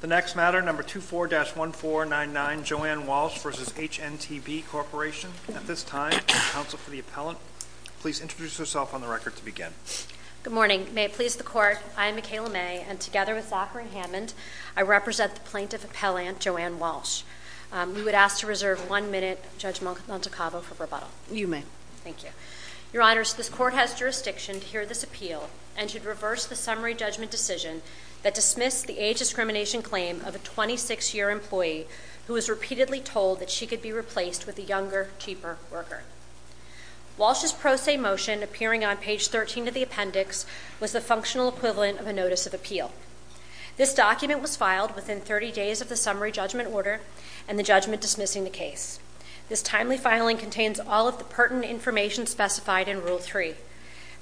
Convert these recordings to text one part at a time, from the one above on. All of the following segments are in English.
The next matter, number 24-1499, Joanne Walsh v. HNTB Corporation. At this time, counsel for the appellant, please introduce yourself on the record to begin. Good morning. May it please the court, I am Mikayla May and together with Zachary Hammond, I represent the plaintiff appellant Joanne Walsh. We would ask to reserve one minute, Judge Montecavo, for rebuttal. You may. Thank you. Your honors, this court has jurisdiction to hear this appeal and should reverse the summary judgment decision that dismissed the age discrimination claim of a 26-year employee who was repeatedly told that she could be replaced with a younger, cheaper worker. Walsh's pro se motion appearing on page 13 of the appendix was the functional equivalent of a notice of appeal. This document was filed within 30 days of the summary judgment order and the judgment dismissing the case. This timely filing contains all of the pertinent information specified in Rule 3.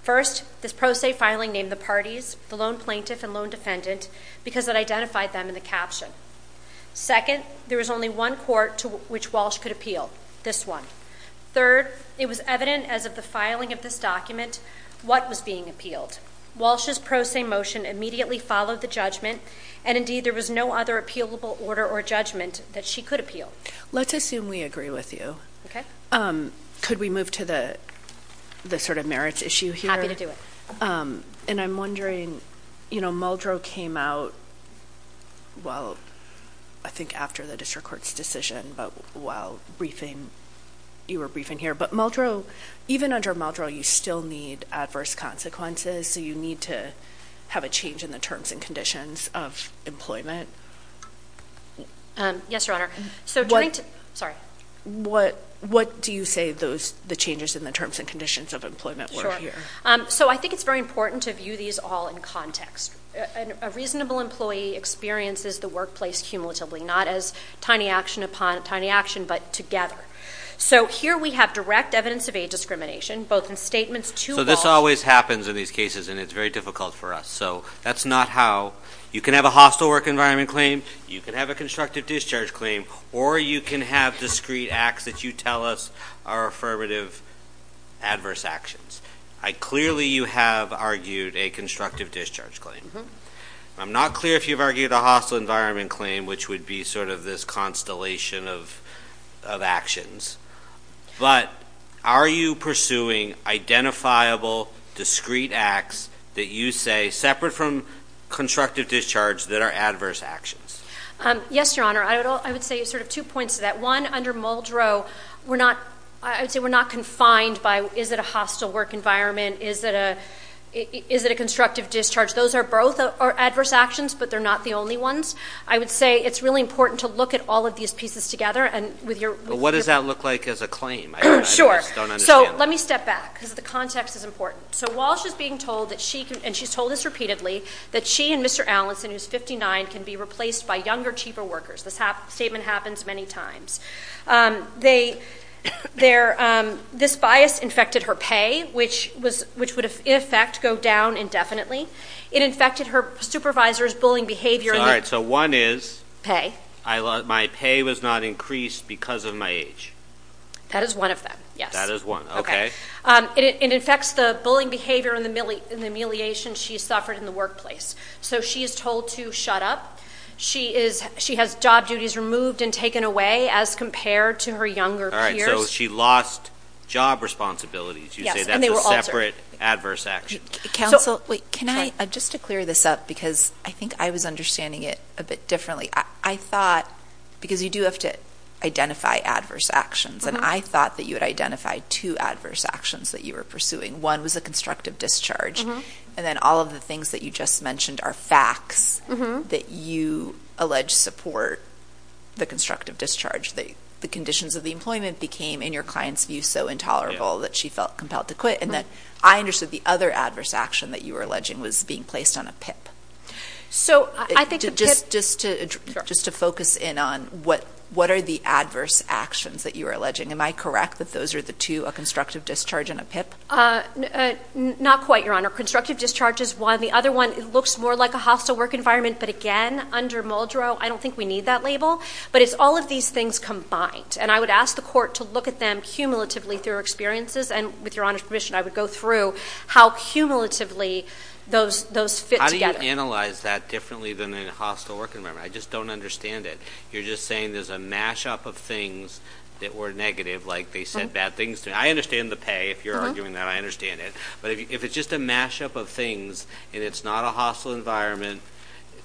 First, this pro se filing named the parties, the lone plaintiff and lone defendant, because it identified them in the caption. Second, there was only one court to which Walsh could appeal. This one. Third, it was evident as of the filing of this document what was being appealed. Walsh's pro se motion immediately followed the judgment and indeed there was no other appealable order or judgment that she could appeal. Let's assume we agree with you. Okay. Um, could we move to the sort of merits issue here? Happy to do it. Um, and I'm wondering, you know, Muldrow came out, well, I think after the district court's decision, but while briefing, you were briefing here, but Muldrow, even under Muldrow, you still need adverse consequences. So you need to have a change in the terms and conditions of employment. Um, yes, your honor. So the changes in the terms and conditions of employment were here. Um, so I think it's very important to view these all in context. A reasonable employee experiences the workplace cumulatively, not as tiny action upon tiny action, but together. So here we have direct evidence of aid discrimination, both in statements to Walsh. So this always happens in these cases and it's very difficult for us. So that's not how you can have a hostile work environment claim. You can have a constructive discharge claim or you can have discrete acts that you tell us are affirmative, adverse actions. I clearly you have argued a constructive discharge claim. I'm not clear if you've argued a hostile environment claim, which would be sort of this constellation of of actions. But are you pursuing identifiable discrete acts that you say separate from constructive discharge that are adverse actions? Um, yes, your honor. I would say sort of two points to that one under Muldrow. We're not, I would say we're not confined by is it a hostile work environment? Is that a is it a constructive discharge? Those are both are adverse actions, but they're not the only ones. I would say it's really important to look at all of these pieces together and with your what does that look like as a claim? Sure. So let me step back because the context is important. So while she's being told that she and she's told us repeatedly that she and Mr. Allison, who's 59, can be replaced by younger, cheaper workers. This statement happens many times. Um, they they're um, this bias infected her pay, which was which would in effect go down indefinitely. It infected her supervisor's bullying behavior. All right. So one is pay. I love my pay was not increased because of my age. That is one of them. Yes, that is one. Okay. Um, it infects the bullying behavior in the in the humiliation she suffered in the workplace. So she is told to shut up. She is. She has job duties removed and taken away as compared to her younger peers. She lost job responsibilities. You say that's a separate adverse action. Council. Wait, can I just to clear this up? Because I think I was understanding it a bit differently. I thought because you do have to identify adverse actions and I thought that you would identify two adverse actions that you were pursuing. One was a constructive discharge. And then all of the things that you just mentioned are facts that you alleged support the constructive discharge that the conditions of the employment became in your client's view so intolerable that she felt compelled to quit. And that I understood the other adverse action that you were alleging was being placed on a pip. So I think just just just to just to focus in on what what are the adverse actions that you are alleging? Am I correct that those are the two constructive discharge and a pip? Not quite, your honor. Constructive discharge is one. The other one looks more like a hostile work environment. But again, under Muldrow, I don't think we need that label. But it's all of these things combined. And I would ask the court to look at them cumulatively through experiences. And with your honor's permission, I would go through how cumulatively those those fit. How do you analyze that differently than the hostile work environment? I just don't understand it. You're just saying there's a mash up of things that were negative, like they said bad things. I understand the pay. If you're arguing that, I understand it. But if it's just a mash up of things and it's not a hostile environment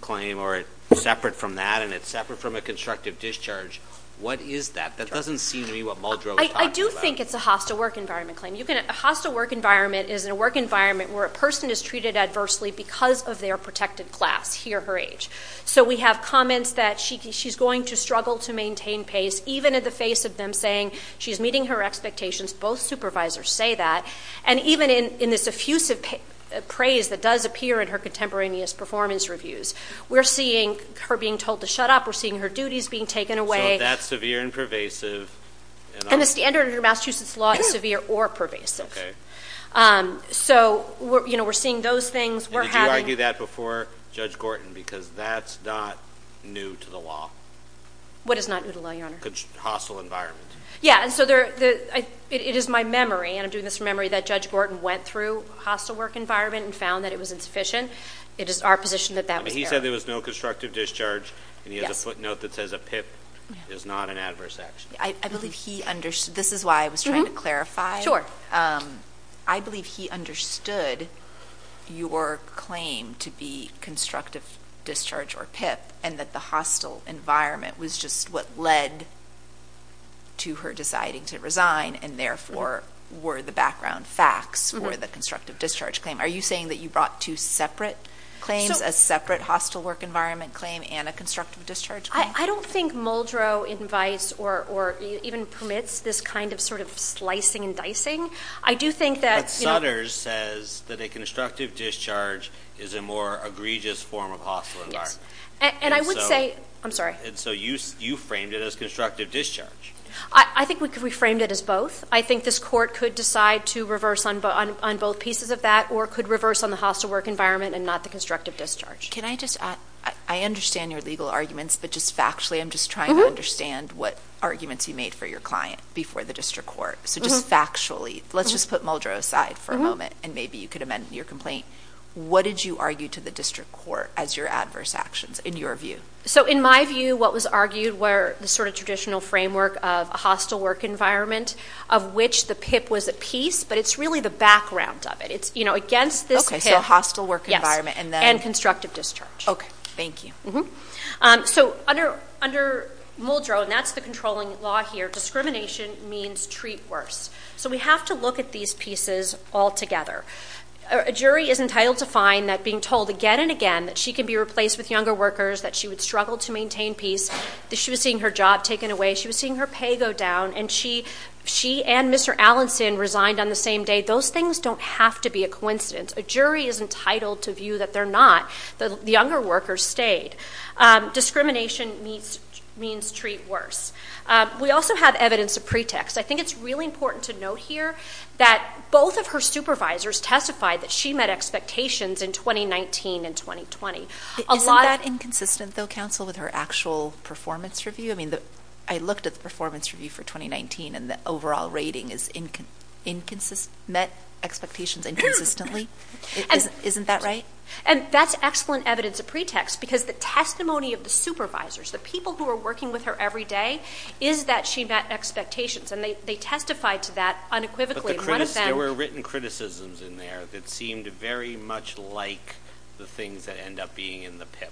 claim or separate from that, and it's separate from a constructive discharge, what is that? That doesn't seem to be what Muldrow is talking about. I do think it's a hostile work environment claim. A hostile work environment is a work environment where a person is treated adversely because of their protected class, he or her age. So we have comments that she she's going to struggle to maintain pace, even in the face of them saying she's meeting her expectations. Both supervisors say that. And even in this effusive praise that does appear in her contemporaneous performance reviews, we're seeing her being told to shut up. We're seeing her duties being taken away. So that's severe and pervasive. And the standard of your Massachusetts law is severe or pervasive. So we're seeing those things. Did you argue that before Judge Gorton? Because that's not new to the law. What is not new to the law? Hostile environment. Yeah. And so it is my memory, and I'm doing this from memory, that Judge Gorton went through hostile work environment and found that it was insufficient. It is our position that that was there. He said there was no constructive discharge. And he has a footnote that says a PIP is not an adverse action. I believe he understood. This is why I was trying to clarify. Sure. I believe he understood your claim to be constructive discharge or PIP and that the hostile environment was just what led to her deciding to resign and therefore were the background facts for the constructive discharge claim. Are you saying that you brought two separate claims, a separate hostile work environment claim and a constructive discharge claim? I don't think Muldrow invites or even permits this kind of slicing and dicing. I do think that... But Sutters says that a constructive discharge is a more egregious form of hostile environment. Yes. And I would say... I'm sorry. And so you framed it as constructive discharge? I think we framed it as both. I think this court could decide to reverse on both pieces of that or could reverse on the hostile work environment and not the constructive discharge. Can I just add... I understand your legal arguments, but just factually, I'm just trying to understand what arguments you made for your client before the district court. So just factually, let's just put Muldrow aside for a moment and maybe you could amend your complaint. What did you argue to the district court as your adverse actions in your view? So in my view, what was argued were the sort of traditional framework of a hostile work environment, of which the PIP was a piece, but it's really the background of it. It's against this PIP... Okay, so a hostile work environment and then... Yes. And constructive discharge. Okay. Thank you. So under Muldrow, and that's the controlling law here, discrimination means treat worse. So we have to look at these pieces all together. A jury is entitled to find that being told again and again that she can be replaced with younger workers, that she would struggle to maintain peace, that she was seeing her job taken away, she was seeing her pay go down, and she and Mr. Allenson resigned on the same day. Those things don't have to be a coincidence. A jury is entitled to view that they're not. The younger workers stayed. Discrimination means treat worse. We also have evidence of pretext. I think it's really important to note here that both of her supervisors testified that she met expectations in 2019 and 2020. Isn't that inconsistent though, counsel, with her actual performance review? I looked at the performance review for 2019 and the overall rating is met expectations inconsistently. Isn't that right? And that's excellent evidence of pretext because the testimony of the supervisors, the people who are working with her every day, is that she met expectations and they testified to that unequivocally. But there were written criticisms in there that seemed very much like the things that end up being in the PIP.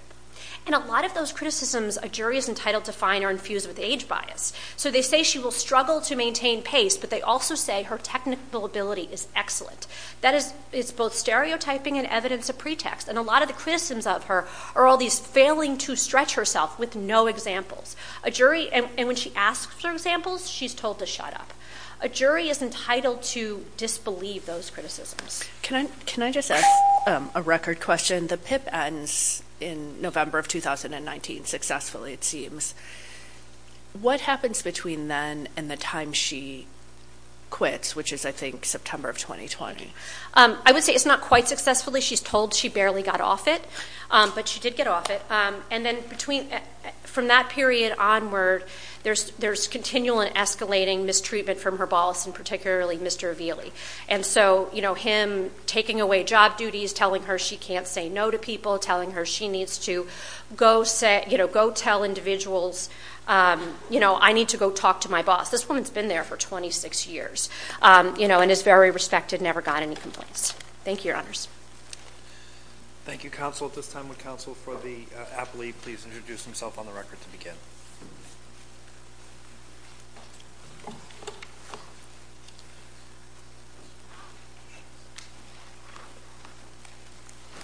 And a lot of those criticisms a jury is entitled to find are infused with age bias. So they say she will struggle to maintain pace, but they also say her technical ability is excellent. That is, it's both stereotyping and evidence of pretext. And a lot of the criticisms of her are all these failing to stretch herself with no examples. A jury, and when she asks for examples, she's told to shut up. A jury is entitled to disbelieve those criticisms. Can I just ask a record question? The PIP ends in November of 2019 successfully, it seems. What happens between then and the time she quits, which is, I think, September of 2020? I would say it's not quite successfully. She's told she barely got off it, but she did get off it. And then from that period onward, there's continual and escalating mistreatment from her boss and particularly Mr. Avili. And so him taking away job duties, telling her she can't say no to people, telling her she needs to go tell individuals, I need to go talk to my boss. This woman's been there for 26 years and is very respected, never got any complaints. Thank you, Your Honors. Thank you, Counsel. At this time, the counsel for the appellee, please introduce himself on the record to begin.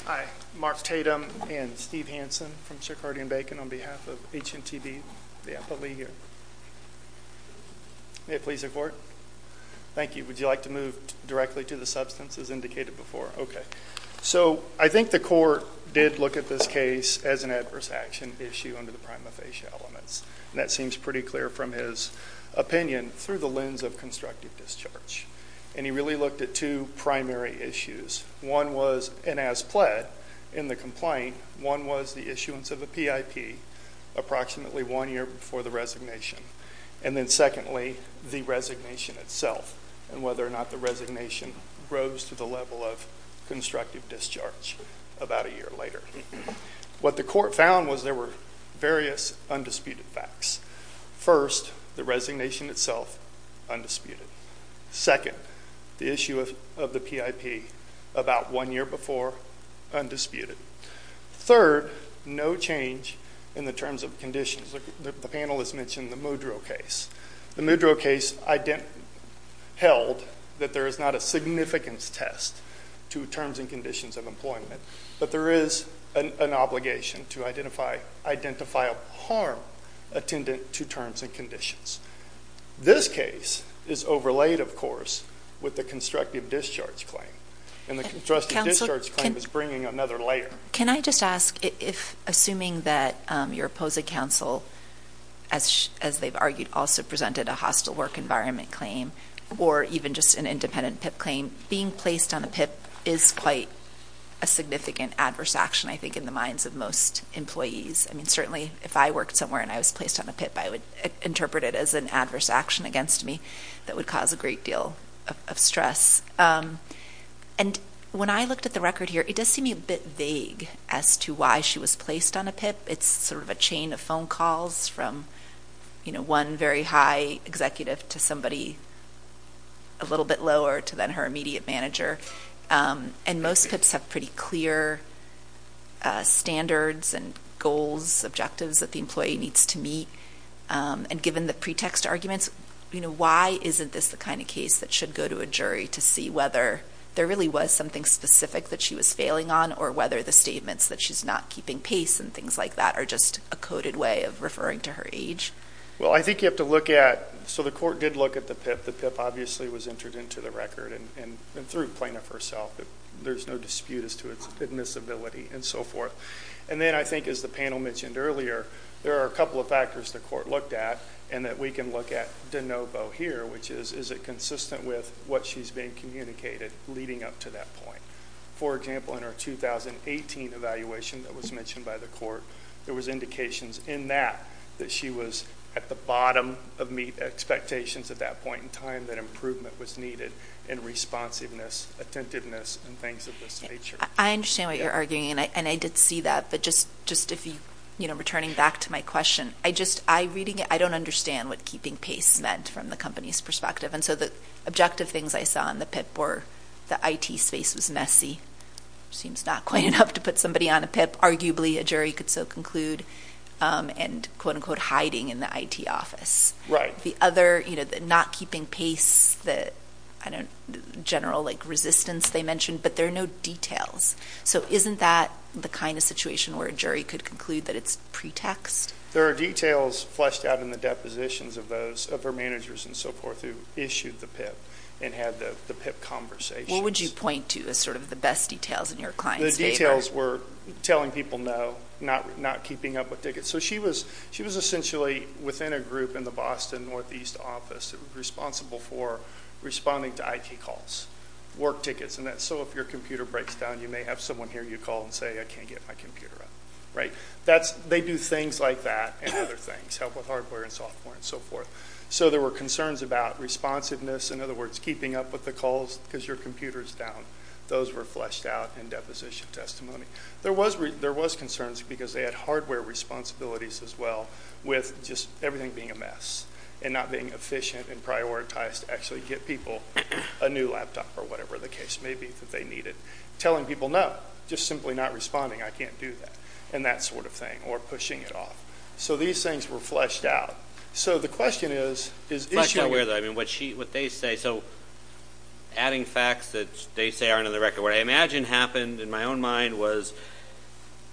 Hi, Mark Tatum and Steve Hansen from Chicardian-Bacon on behalf of HNTB, the appellee here. May it please the court. Thank you. Would you like to move directly to the substance as indicated before? Okay. So I think the court did look at this case as an adverse action issue under the prima facie elements. And that seems pretty clear from his opinion through the lens of constructive discharge. And he really looked at two primary issues. One was, and as pled in the complaint, one was the issuance of a PIP approximately one year before the resignation. And then secondly, the resignation itself and whether or not the resignation rose to the level of constructive discharge about a year later. What the court found was there were various undisputed facts. First, the resignation itself, undisputed. Second, the issue of the PIP about one year before, undisputed. Third, no change in the terms of conditions. The panel has mentioned the Mudrow case. The Mudrow case held that there is not a significance test to terms and conditions of employment, but there is an obligation to identify a harm attendant to terms and conditions. This case is overlaid, of course, with the constructive discharge claim. And the constructive discharge claim is bringing another layer. Can I just ask if, assuming that your opposing counsel, as they've argued, also presented a hostile work environment claim or even just an independent PIP claim, being placed on a PIP is quite a significant adverse action, I think, in the minds of most employees. I mean, certainly, if I worked somewhere and I was placed on a PIP, I would interpret it as an adverse action against me that would cause a great deal of stress. Yes. And when I looked at the record here, it does seem a bit vague as to why she was placed on a PIP. It's sort of a chain of phone calls from one very high executive to somebody a little bit lower to then her immediate manager. And most PIPs have pretty clear standards and goals, objectives that the employee needs to meet. And given the pretext arguments, why isn't this the kind of case that should go to a jury to see whether there really was something specific that she was failing on or whether the statements that she's not keeping pace and things like that are just a coded way of referring to her age? Well, I think you have to look at... So the court did look at the PIP. The PIP obviously was entered into the record and through plaintiff herself. There's no dispute as to its admissibility and so forth. And then I think, as the panel mentioned earlier, there are a couple of factors the court looked at and that we can look at de novo here, which is, is it consistent with what she's been communicated leading up to that point? For example, in our 2018 evaluation that was mentioned by the court, there was indications in that that she was at the bottom of expectations at that point in time that improvement was needed and responsiveness, attentiveness, and things of this nature. I understand what you're arguing and I did see that, but just if you... Returning back to my question, I just... I reading it, I don't understand what keeping pace meant from the company's perspective. And so the objective things I saw in the PIP were the IT space was messy, seems not quite enough to put somebody on a PIP, arguably a jury could so conclude, and quote unquote, hiding in the IT office. Right. The other, not keeping pace, the general resistance they mentioned, but there are no details. So isn't that the kind of situation where a jury could conclude that it's pretext? There are details fleshed out in the depositions of those, of her managers and so forth who issued the PIP and had the PIP conversation. What would you point to as sort of the best details in your client's favor? The details were telling people no, not keeping up with tickets. So she was essentially within a group in the Boston Northeast office responsible for responding to IT calls, work tickets, and that's so if your computer breaks down, you may have someone here, you call and say, I can't get my computer up. They do things like that and other things, help with hardware and software and so forth. So there were concerns about responsiveness, in other words, keeping up with the calls because your computer's down. Those were fleshed out in deposition testimony. There was concerns because they had hardware responsibilities as well with just everything being a mess and not being efficient and prioritized to actually get people a new laptop or whatever the case may be that they needed. Telling people no, just simply not responding, I can't do that, and that sort of thing, or pushing it off. So these things were fleshed out. So the question is, is... Fleshed out where though? What they say. So adding facts that they say aren't on the record. What I imagine happened, in my own mind, was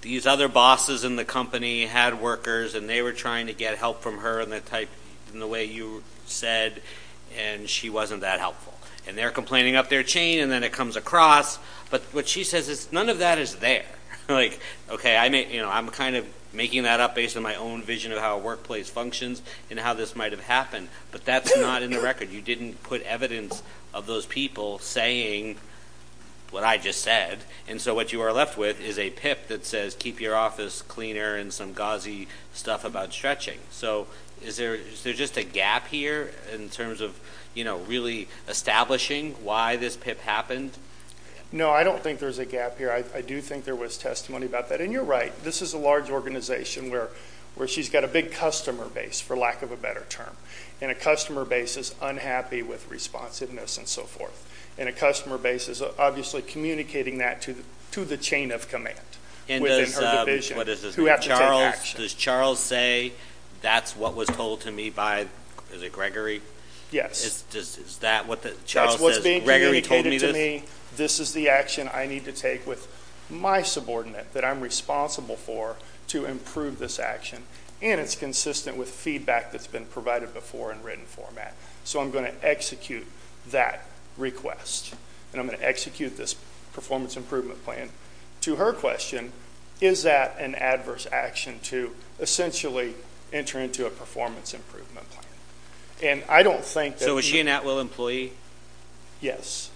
these other bosses in the company had workers and they were trying to get help from her in the way you said and she wasn't that helpful. And they're complaining up their chain and then it comes across. But what she says is, none of that is there. I'm making that up based on my own vision of how a workplace functions and how this might have happened, but that's not in the record. You didn't put evidence of those people saying what I just said. And so what you are left with is a pip that says, keep your office cleaner and some gauzy stuff about stretching. So is there just a gap here in terms of really establishing why this pip happened? No, I don't think there's a gap here. I do think there was testimony about that. And you're right, this is a large organization where she's got a big customer base, for lack of a better term. And a customer base is unhappy with responsiveness and so forth. And a customer base is obviously communicating that to the chain of command within her division who has to take action. And does Charles say, that's what was told to me by... Is it Gregory? Yes. Is that what the... Charles says, Gregory told me this? That's what's being communicated to me. This is the action I need to take with my subordinate that I'm responsible for to improve this action. And it's consistent with feedback that's been provided before in written format. So I'm gonna execute that request. And I'm gonna execute this performance improvement plan. To her question, is that an adverse action to essentially enter into a performance improvement plan? And I don't think that... So is she an Atwill employee? Yes.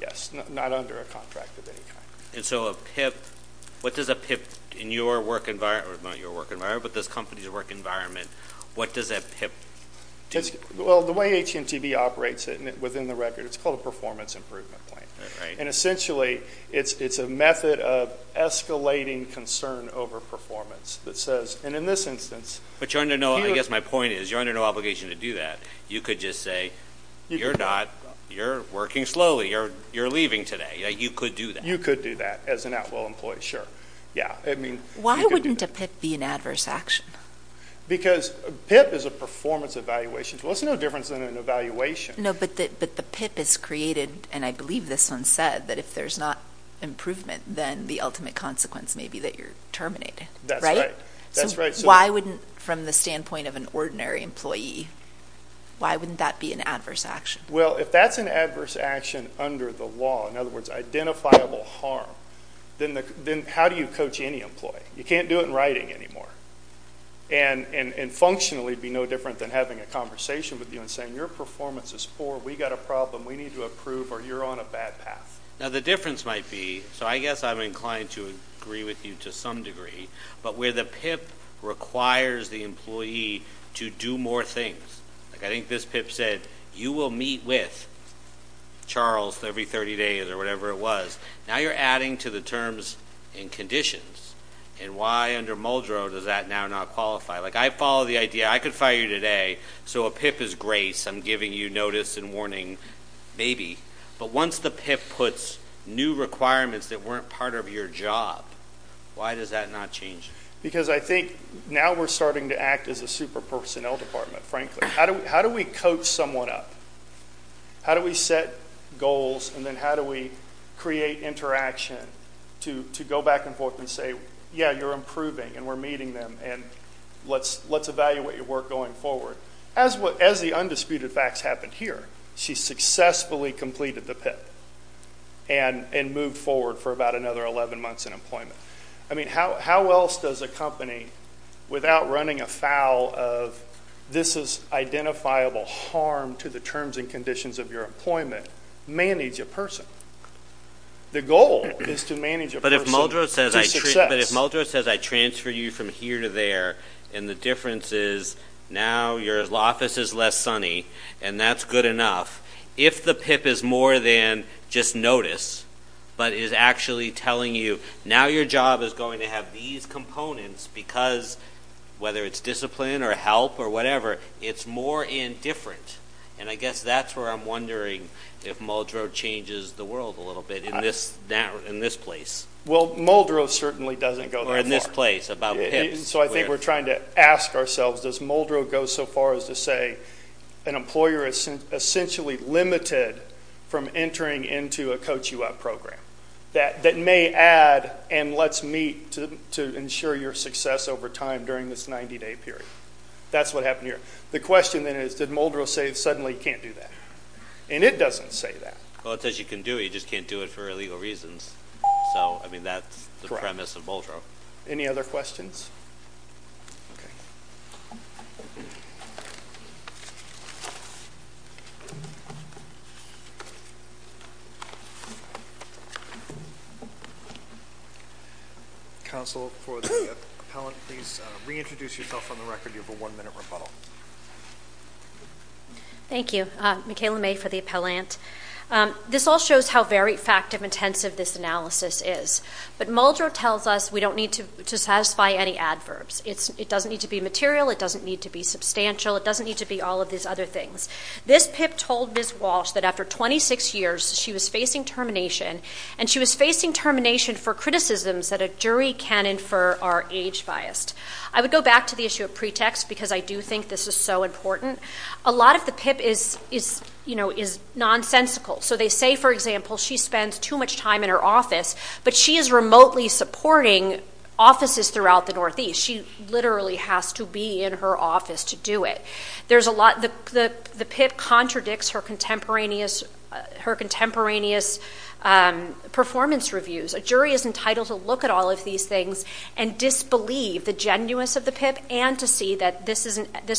Yes, not under a contract of any kind. And so a pip... What does a pip in your work environment... Not your work environment, but this company's work environment, what does a pip do? Well, the way AT&T operates it within the record, it's called a performance improvement plan. And essentially, it's a method of escalating concern over performance that says... And in this instance... But you're under no... I guess my point is, you're under no obligation to do that. You could just say, you're not, you're working slowly, you're leaving today. You could do that. You could do that as an Atwill employee, sure. Yeah. Why wouldn't a pip be an adverse action? Because pip is a performance evaluation. So it's no difference than an evaluation. No, but the pip is created, and I believe this one said, that if there's not improvement, then the ultimate consequence may be that you're terminated, right? That's right. So why wouldn't, from the standpoint of an ordinary employee, why wouldn't that be an adverse action? Well, if that's an adverse action under the law, in other words, identifiable harm, then how do you coach any employee? You can't do it in writing anymore. And functionally, it'd be no different than having a conversation with you and saying, your performance is poor, we got a problem, we need to approve, or you're on a bad path. Now, the difference might be... So I guess I'm inclined to agree with you to some degree, but where the pip requires the employee to do more things. I think this pip said, you will meet with Charles every 30 days or whatever it was. Now you're adding to the terms and conditions, and why under Muldrow does that now not qualify? Like, I follow the idea, I could fire you today, so a pip is grace, I'm giving you notice and warning, maybe. But once the pip puts new requirements that weren't part of your job, why does that not change? Because I think now we're starting to act as a super personnel department, frankly. How do we coach someone up? How do we set goals, and then how do we create interaction to go back and forth and say, yeah, you're improving and we're meeting them, and let's evaluate your work going forward? As the undisputed facts happened here, she successfully completed the pip and moved forward for about another 11 months in employment. How else does a company, without running afoul of this is identifiable harm to the terms and conditions of your employment, manage a person? The goal is to manage a person to success. But if Muldrow says I transfer you from here to there, and the difference is now your office is less sunny, and that's good enough. If the pip is more than just notice, but is actually telling you, now your job is going to have these components because, whether it's discipline or help or whatever, it's more indifferent. And I guess that's where I'm wondering if Muldrow changes the world a little bit in this place. Well, Muldrow certainly doesn't go that far. Or in this place, about pips. So I think we're trying to ask ourselves, does Muldrow go so far as to say an employer is essentially limited from entering into a coach you up program that may add and let's meet to ensure your success over time during this 90 day period? That's what happened here. The question then is, did Muldrow say suddenly can't do that? And it doesn't say that. Well, it says you can do it. You just can't do it for illegal reasons. So, I mean, that's the premise of Muldrow. Any other questions? Counsel for the appellant, please reintroduce yourself on the record. You have a one minute rebuttal. Thank you. Michaela May for the appellant. This all shows how very fact of intensive this analysis is. But Muldrow tells us we don't need to satisfy any adverbs. It doesn't need to be material. It doesn't need to be substantial. It doesn't need to be all of these other things. This pip told Ms. Walsh that after 26 years, she was facing termination, and she was facing termination for criticisms that a jury can infer are age biased. I would go back to the issue of pretext because I do think this is so important. A lot of the pip is nonsensical. So they say, for example, she spends too much time in her office, but she is remotely supporting offices throughout the Northeast. She literally has to be in her office to do it. The pip contradicts her contemporaneous performance reviews. A jury is entitled to look at all of these things and disbelieve the genuineness of the pip and to see that this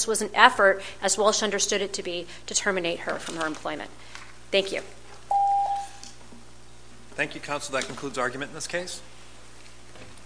was an effort, as Walsh understood it to be, to terminate her from her employment. Thank you. Thank you, counsel. That concludes argument in this case.